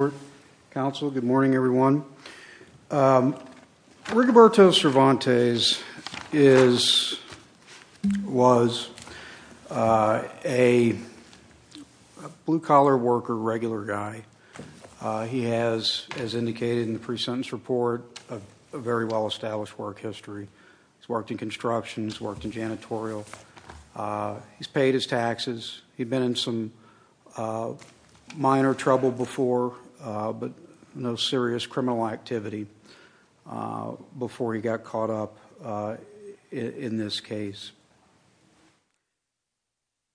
Good morning, everyone. Rigoberto Cervantes was a blue-collar worker, regular guy. He has, as indicated in the pre-sentence report, a very well-established work history. He's worked in construction. He's worked in janitorial. He's paid his taxes. He'd been in some minor trouble before, but no serious criminal activity before he got caught up in this case.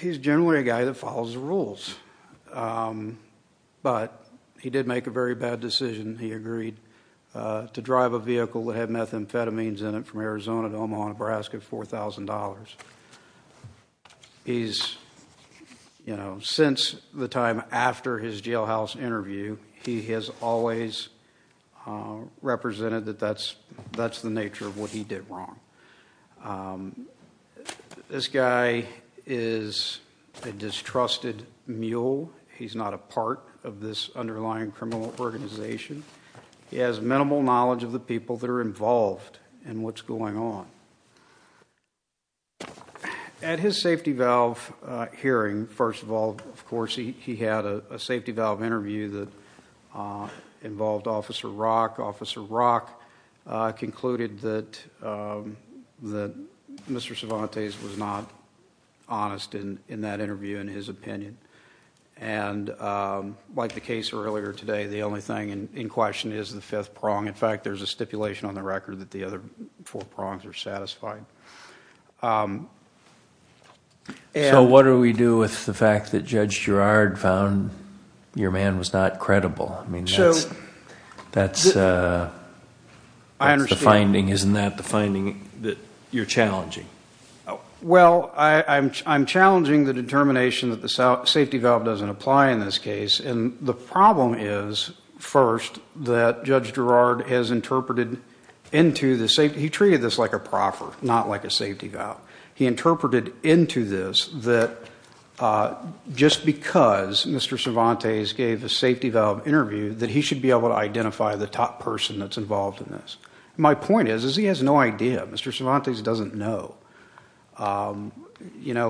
He's generally a guy that follows the rules, but he did make a very bad decision. He agreed to drive a vehicle that had methamphetamines in it from Arizona to Omaha, Nebraska for $4,000. Since the time after his jailhouse interview, he has always represented that that's the nature of what he did wrong. This guy is a distrusted mule. He's not a part of this underlying criminal organization. He has minimal knowledge of the people that are involved in what's going on. At his safety valve hearing, first of all, of course, he had a safety valve interview that involved Officer Rock. Officer Rock concluded that Mr. Cervantes was not honest in that interview, in his opinion. Like the case earlier today, the only thing in question is the fifth prong. In fact, there's a stipulation on the record that the other four prongs are satisfied. So what do we do with the fact that Judge Girard found your man was not credible? That's the finding, isn't that the finding that you're challenging? Well, I'm challenging the determination that the safety valve doesn't apply in this case. The problem is, first, that Judge Girard has interpreted into the safety valve. He treated this like a proffer, not like a safety valve. He interpreted into this that just because Mr. Cervantes gave a safety valve interview, that he should be able to identify the top person that's involved in this. My point is he has no idea. Mr. Cervantes doesn't know.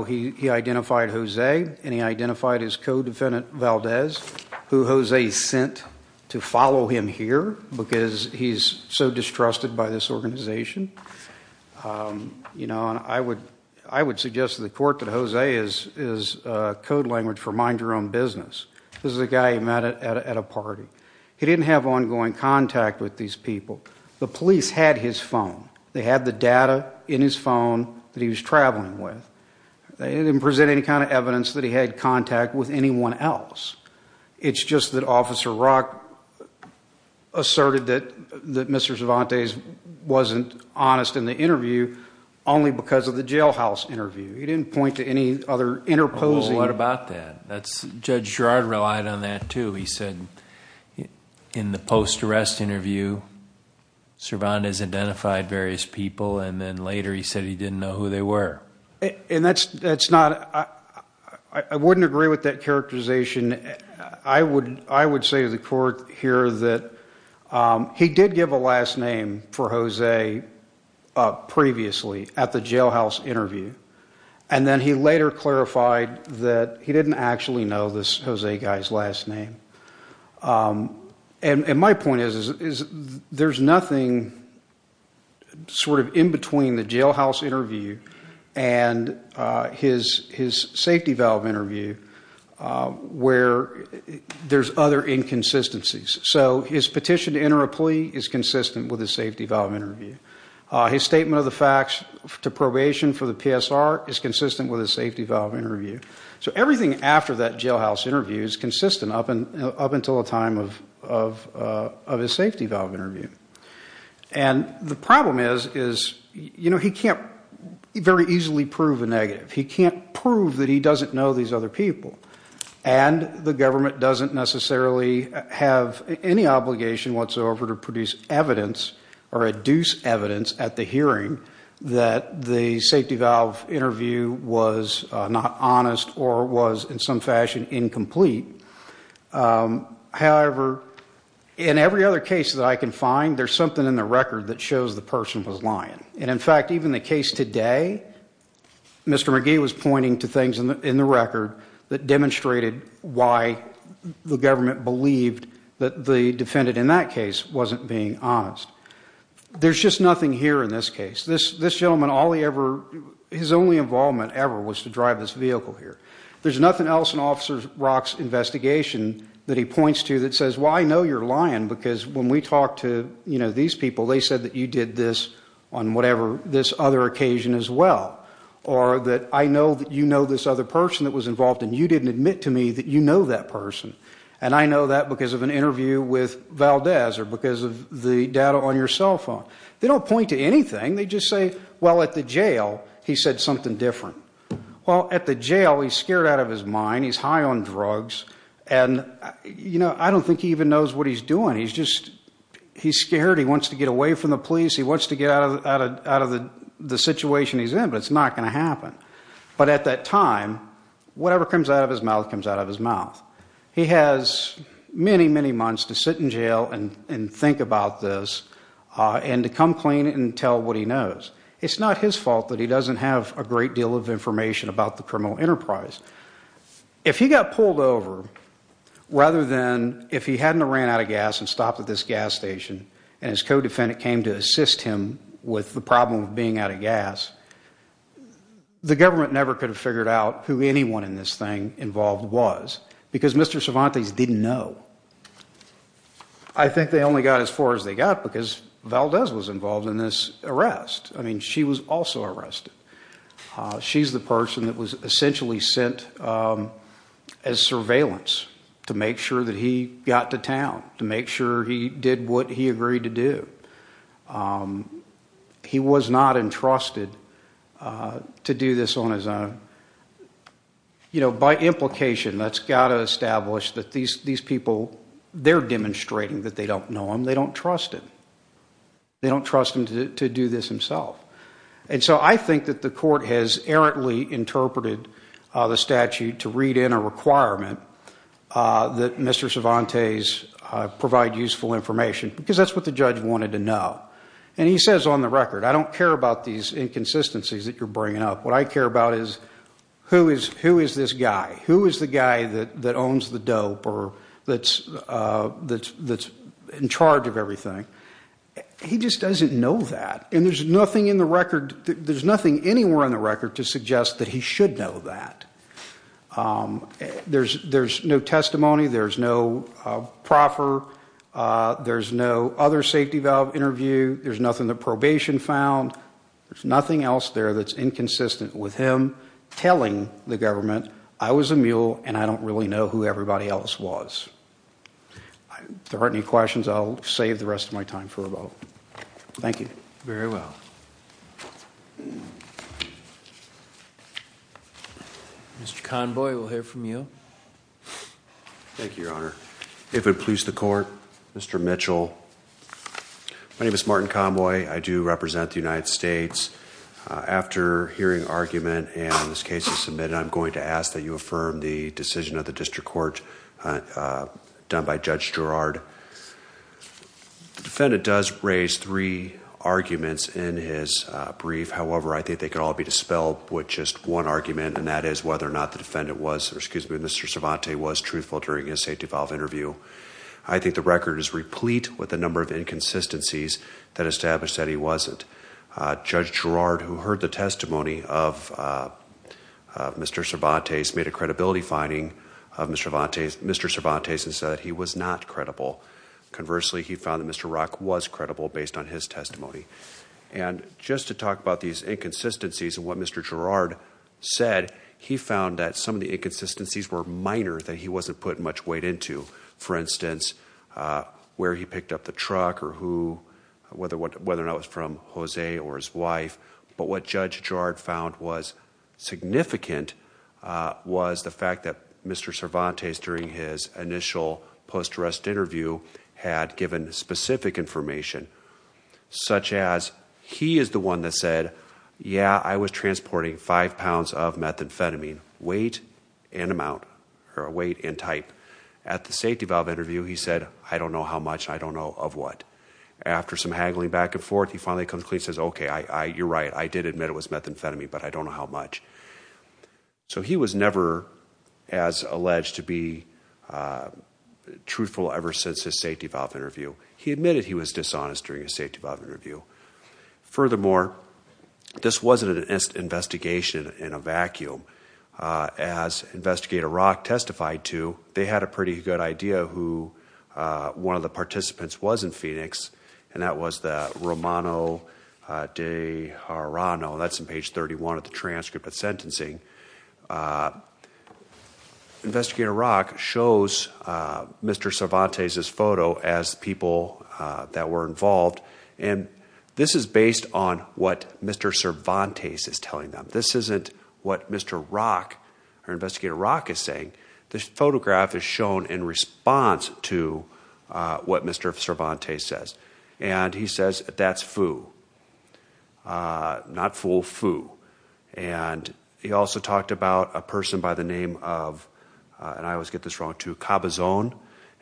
He identified Jose and he identified his co-defendant Valdez, who Jose sent to follow him here because he's so distrusted by this organization. I would suggest to the court that Jose is code language for mind your own business. This is a guy he met at a party. He didn't have ongoing contact with these people. The police had his phone. They had the data in his phone that he was traveling with. They didn't present any kind of evidence that he had contact with anyone else. It's just that Officer Rock asserted that Mr. Cervantes wasn't honest in the interview, only because of the jailhouse interview. He didn't point to any other interposing... Well, what about that? Judge Girard relied on that too. He said in the post-arrest interview, Cervantes identified various people, and then later he said he didn't know who they were. And that's not... I wouldn't agree with that characterization. I would say to the court here that he did give a last name for Jose previously at the jailhouse interview, and then he later clarified that he didn't actually know this Jose guy's last name. And my point is, there's nothing sort of in between the jailhouse interview and his safety valve interview where there's other inconsistencies. So his petition to enter a plea is consistent with his safety valve interview. His statement of the facts to probation for the PSR is consistent with his safety valve interview. Everything after that jailhouse interview is consistent up until the time of his safety valve interview. And the problem is, he can't very easily prove a negative. He can't prove that he doesn't know these other people. And the government doesn't necessarily have any obligation whatsoever to produce evidence or adduce evidence at the hearing that the safety valve interview was not honest or was, in some fashion, incomplete. However, in every other case that I can find, there's something in the record that shows the person was lying. And in fact, even the case today, Mr. McGee was pointing to things in the record that demonstrated why the government believed that the defendant in that case wasn't being honest. There's just nothing here in this case. This gentleman, his only involvement ever was to drive this vehicle here. There's nothing else in Officer Rock's investigation that he points to that says, well, I know you're lying because when we talked to these people, they said that you did this on this other occasion as well. Or that I know that you know this other person that was involved and you didn't admit to me that you know that person. And I know that because of an interview with Valdez or because of the data on your cell phone. They don't point to anything. They just say, well, at the jail, he said something different. Well, at the jail, he's scared out of his mind. He's high on drugs. And I don't think he even knows what he's doing. He's scared. He wants to get away from the police. He wants to get out of the situation he's in, but it's not going to happen. But at that time, whatever comes out of his mouth comes out of his mouth. He has many, many months to sit in jail and think about this. And to come clean and tell what he knows. It's not his fault that he doesn't have a great deal of information about the criminal enterprise. If he got pulled over, rather than if he hadn't ran out of gas and stopped at this gas station and his co-defendant came to assist him with the problem of being out of gas, the government never could have figured out who anyone in this thing involved was. Because Mr. Cervantes didn't know. I think they only got as far as they got because Valdez was involved in this arrest. I mean, she was also arrested. She's the person that was essentially sent as surveillance to make sure that he got to town, to make sure he did what he agreed to do. He was not entrusted to do this on his own. You know, by implication, that's got to establish that these people, they're demonstrating that they don't know him. They don't trust him. They don't trust him to do this himself. And so I think that the court has errantly interpreted the statute to read in a requirement that Mr. Cervantes provide useful information because that's what the judge wanted to know. And he says on the record, I don't care about these inconsistencies that you're bringing up. What I care about is, who is this guy? Who is the guy that owns the dope or that's in charge of everything? He just doesn't know that. And there's nothing anywhere in the record to suggest that he should know that. There's no testimony. There's no proffer. There's no other safety valve interview. There's nothing that probation found. There's nothing else there that's inconsistent with him telling the government, he's a mule and I don't really know who everybody else was. If there aren't any questions, I'll save the rest of my time for a vote. Thank you. Very well. Mr. Conboy, we'll hear from you. Thank you, Your Honor. If it please the court, Mr. Mitchell. My name is Martin Conboy. I do represent the United States. After hearing argument and this case is submitted, I'm going to ask that you affirm the decision of the district court done by Judge Girard. The defendant does raise three arguments in his brief. However, I think they could all be dispelled with just one argument and that is whether or not the defendant was, or excuse me, Mr. Cervantes was truthful during his safety valve interview. I think the record is replete with a number of inconsistencies that establish that he wasn't. Judge Girard, who heard the testimony of Mr. Cervantes, made a credibility finding of Mr. Cervantes and said that he was not credible. Conversely, he found that Mr. Rock was credible based on his testimony. Just to talk about these inconsistencies and what Mr. Girard said, he found that some of the inconsistencies were minor that he wasn't putting much weight into. For instance, where he picked up the truck or who, whether or not it was from Jose or his wife, but what Judge Girard found was significant was the fact that Mr. Cervantes, during his initial post-arrest interview, had given specific information, such as he is the one that said, yeah, I was transporting five pounds of methamphetamine, weight and amount, or weight and type. At the safety valve interview, he said, I don't know how much, I don't know of what. After some haggling back and forth, he finally comes clean and says, okay, you're right, I did admit it was methamphetamine, but I don't know how much. So he was never as alleged to be truthful ever since his safety valve interview. He admitted he was dishonest during his safety valve interview. Furthermore, this wasn't an investigation in a vacuum. As Investigator Rock testified to, they had a pretty good idea who one of the participants was in Phoenix, and that was Romano De Jarano. That's on page 31 of the transcript of sentencing. Investigator Rock shows Mr. Cervantes' photo as people that were involved, and this is based on what Mr. Cervantes is telling them. This isn't what Mr. Rock, or Investigator Rock, is saying. This photograph is shown in response to what Mr. Cervantes says, and he says, that's Fu. Not fool, Fu. And he also talked about a person by the name of, and I always get this wrong too, Cabazon,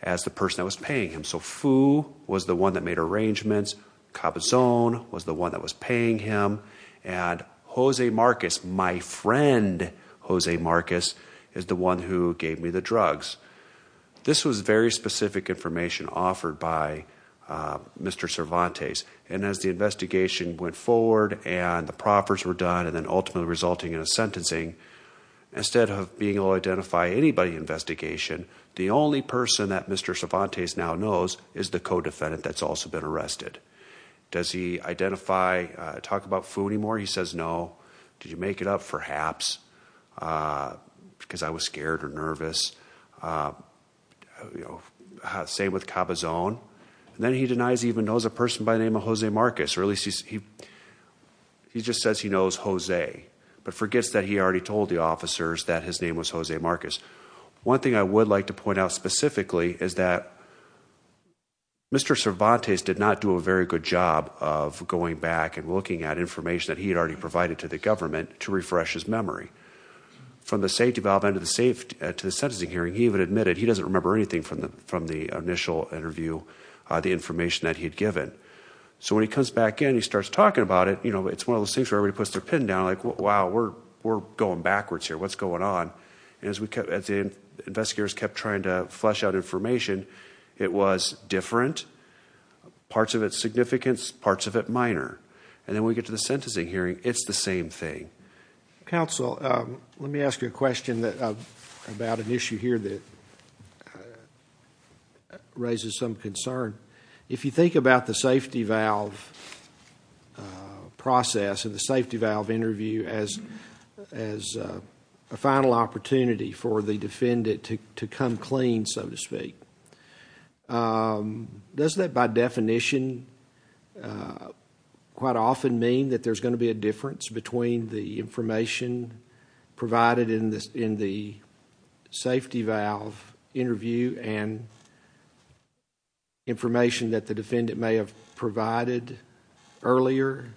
as the person that was paying him. So Fu was the one that made arrangements, Cabazon was the one that was paying him, and Jose Marcus, my friend Jose Marcus, is the one who gave me the drugs. This was very specific information offered by Mr. Cervantes, and as the investigation went forward, and the proffers were done, and then ultimately resulting in a sentencing, instead of being able to identify anybody in the investigation, the only person that Mr. Cervantes now knows is the co-defendant that's also been arrested. Does he identify, talk about Fu anymore? He says no. Did you make it up? Perhaps. Because I was scared or nervous. Same with Cabazon. Then he denies he even knows a person by the name of Jose Marcus, or at least he just says he knows Jose, but forgets that he already told the officers that his name was Jose Marcus. One thing I would like to point out specifically, is that Mr. Cervantes did not do a very good job of going back and looking at information that he had already provided to the government to refresh his memory. When he got to the sentencing hearing, he even admitted he doesn't remember anything from the initial interview, the information that he'd given. So when he comes back in and he starts talking about it, it's one of those things where everybody puts their pin down, like, wow, we're going backwards here. What's going on? And as the investigators kept trying to flesh out information, it was different, parts of it significant, parts of it minor. And then when we get to the sentencing hearing, it's the same thing. Counsel, let me ask you a question about an issue here that raises some concern. If you think about the safety valve process and the safety valve interview as a final opportunity for the defendant to come clean, so to speak, does that by definition quite often mean that there's going to be a difference in the information provided in the safety valve interview and information that the defendant may have provided earlier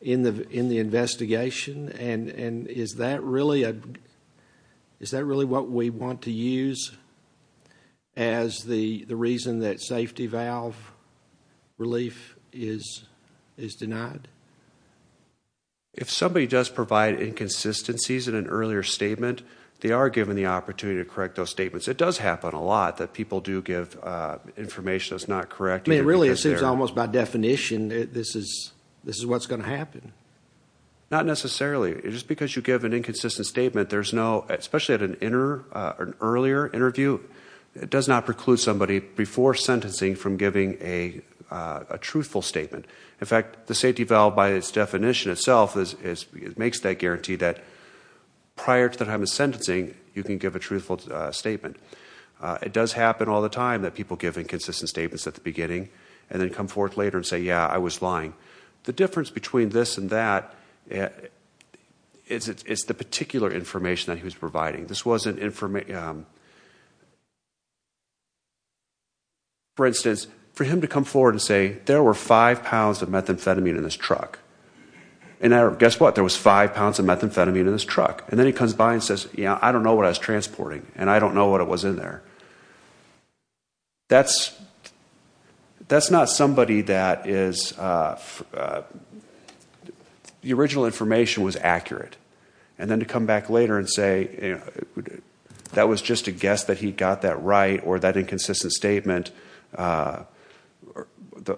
in the investigation? And is that really what we want to use as the reason that safety valve relief is denied? If somebody does provide inconsistencies in an earlier statement, they are given the opportunity to correct those statements. It does happen a lot that people do give information that's not correct. I mean, really, it seems almost by definition this is what's going to happen. Not necessarily. Just because you give an inconsistent statement, there's no, especially at an earlier interview, it does not preclude somebody before sentencing from giving a truthful statement. In fact, the safety valve by its definition itself makes that guarantee that prior to the time of sentencing, you can give a truthful statement. It does happen all the time that people give inconsistent statements at the beginning and then come forth later and say, yeah, I was lying. The difference between this and that is the particular information that he was providing. This wasn't information. For instance, for him to come forward and say, there were five pounds of methamphetamine in this truck. And guess what? There was five pounds of methamphetamine in this truck. And then he comes by and says, yeah, I don't know what I was transporting and I don't know what was in there. That's not somebody that is, the original information was accurate. And then to come back later and say, that was just a guess that he got that right or that inconsistent statement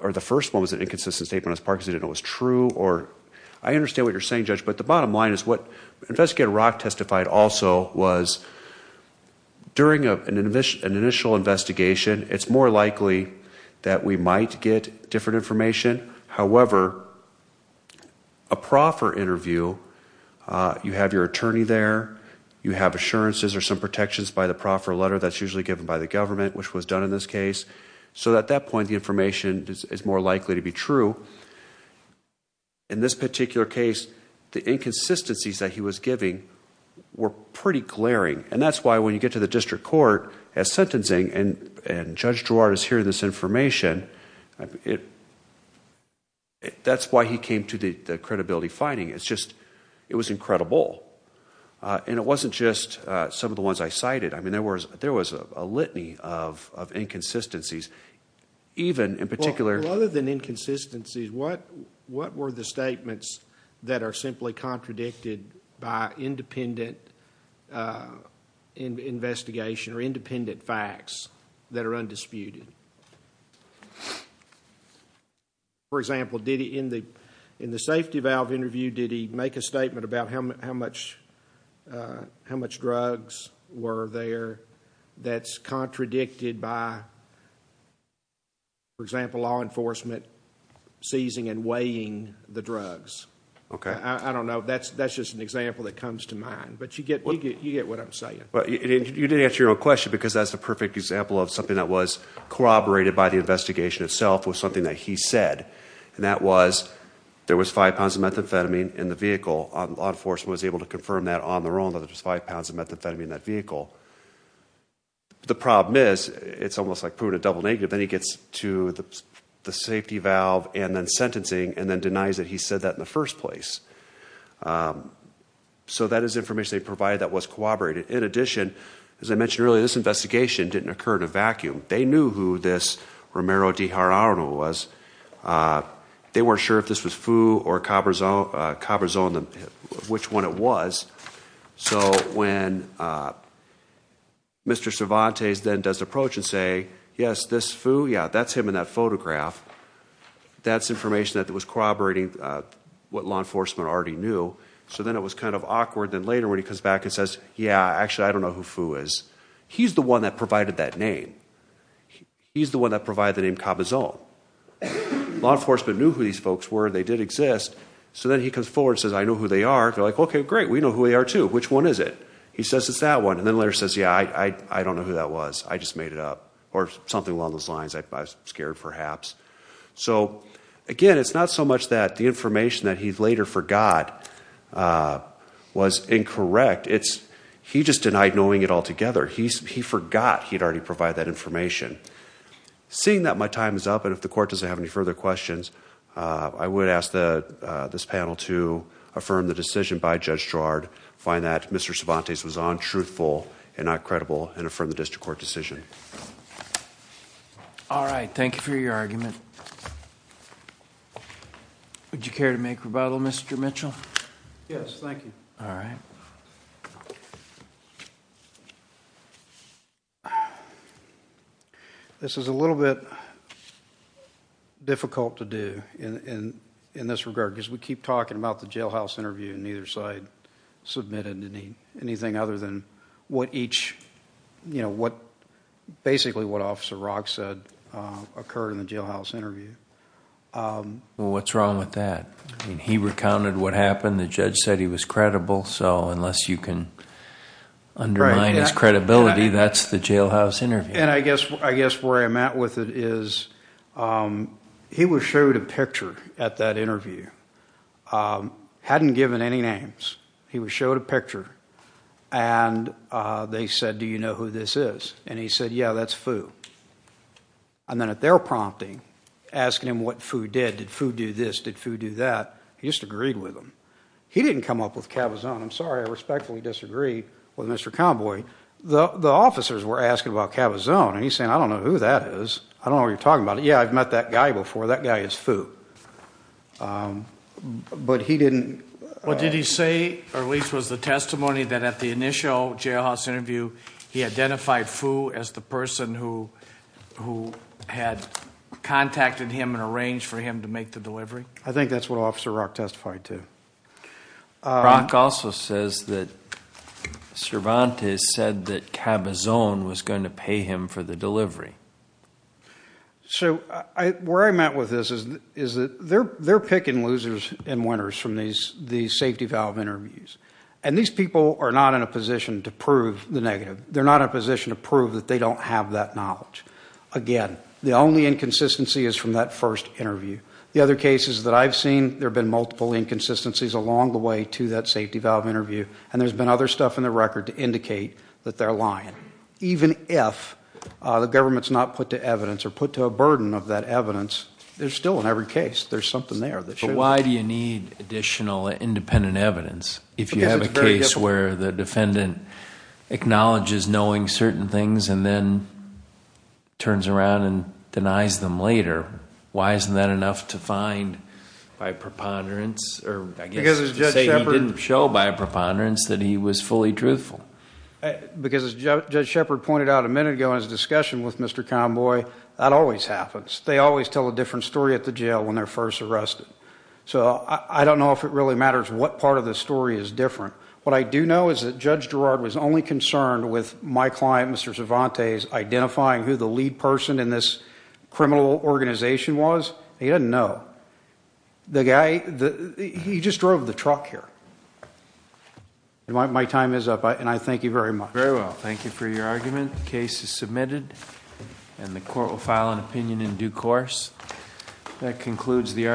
or the first one was an inconsistent statement as Parkinson's didn't know it was true. I understand what you're saying, Judge, but the bottom line is what Investigator Rock testified also was during an initial investigation, it's more likely that we might get different information. However, a proffer interview, you have your attorney there, you have assurances or some protections by the proffer letter that's usually given by the government, which was done in this case. So at that point, the information is more likely to be true. In this particular case, the inconsistencies that he was giving were pretty glaring. And that's why when you get to the district court as sentencing and Judge Drouard is hearing this information, that's why he came to the credibility finding. It's just, it was incredible. And it wasn't just some of the ones I cited. I mean, there was a litany of inconsistencies. Even in particular... Well, other than inconsistencies, what were the statements that are simply contradicted by independent investigation or independent facts that are undisputed? For example, in the safety valve interview, did he make a statement about how much drugs were there that's contradicted by, for example, law enforcement seizing and weighing the drugs? I don't know. That's just an example that comes to mind. But you get what I'm saying. You didn't answer your own question because that's a perfect example of something that was corroborated by the investigation itself with something that he said. And that was, there was five pounds of methamphetamine in the vehicle. Law enforcement was able to confirm that on their own, that there was five pounds of methamphetamine in that vehicle. The problem is, it's almost like proving a double negative. Then he gets to the safety valve and then sentencing and then denies that he said that in the first place. So that is information they provided that was corroborated. In addition, as I mentioned earlier, this investigation didn't occur in a vacuum. They knew who this Romero de Jarauno was. They weren't sure if this was Fu or Cabazon, which one it was. So when Mr. Cervantes then does approach and say, yes, this Fu, yeah, that's him in that photograph. That's information that was corroborating what law enforcement already knew. So then it was kind of awkward. Then later when he comes back and says, yeah, actually I don't know who Fu is. He's the one that provided that name. He's the one that provided the name Cabazon. Law enforcement knew who these folks were. They did exist. So then he comes forward and says, I know who they are. They're like, okay, great. We know who they are too. Which one is it? He says it's that one. And then later says, yeah, I don't know who that was. I just made it up or something along those lines. I was scared perhaps. So again, it's not so much that the information that he later forgot was incorrect. I would ask this panel to affirm the decision by Judge Gerard. Find that Mr. Cervantes was untruthful and not credible and affirm the district court decision. All right. Thank you for your argument. Would you care to make rebuttal, Mr. Mitchell? Yes, thank you. All right. This is a little bit difficult to do. In this regard, because we keep talking about the jailhouse interview and neither side submitted anything other than basically what Officer Rock said occurred in the jailhouse interview. Well, what's wrong with that? He recounted what happened. The judge said he was credible. So unless you can undermine his credibility, that's the jailhouse interview. I guess where I'm at with it is he was showed a picture at that interview. Hadn't given any names. He was showed a picture and they said, do you know who this is? And he said, yeah, that's Fu. And then at their prompting, asking him what Fu did, did Fu do this, did Fu do that, he just agreed with him. He didn't come up with Cavazon. I'm sorry, I respectfully disagree with Mr. Convoy. The officers were asking about Cavazon because I've met that guy before. That guy is Fu. But he didn't... Well, did he say, or at least was the testimony that at the initial jailhouse interview he identified Fu as the person who had contacted him and arranged for him to make the delivery? I think that's what Officer Rock testified to. Rock also says that Cervantes said that Cavazon was going to pay him for the delivery. Where I'm at with this is that they're picking losers and winners from these safety valve interviews. And these people are not in a position to prove the negative. They're not in a position to prove that they don't have that knowledge. Again, the only inconsistency is from that first interview. The other cases that I've seen, there have been multiple inconsistencies along the way to that safety valve interview, and there's been other stuff in the record to indicate that they're lying, even if the government's not put to evidence or put to a burden of that evidence. There's still, in every case, there's something there that shows. But why do you need additional independent evidence if you have a case where the defendant acknowledges knowing certain things and then turns around and denies them later? Why isn't that enough to find by preponderance, or I guess to say he didn't show by preponderance that he was fully truthful? Well, as Judge Shepard pointed out a minute ago in his discussion with Mr. Conboy, that always happens. They always tell a different story at the jail when they're first arrested. So I don't know if it really matters what part of the story is different. What I do know is that Judge Girard was only concerned with my client, Mr. Cervantes, identifying who the lead person in this criminal organization was. He didn't know. He just drove the truck here. My time is up, and I thank you for your argument. The case is submitted, and the court will file an opinion in due course. That concludes the argument.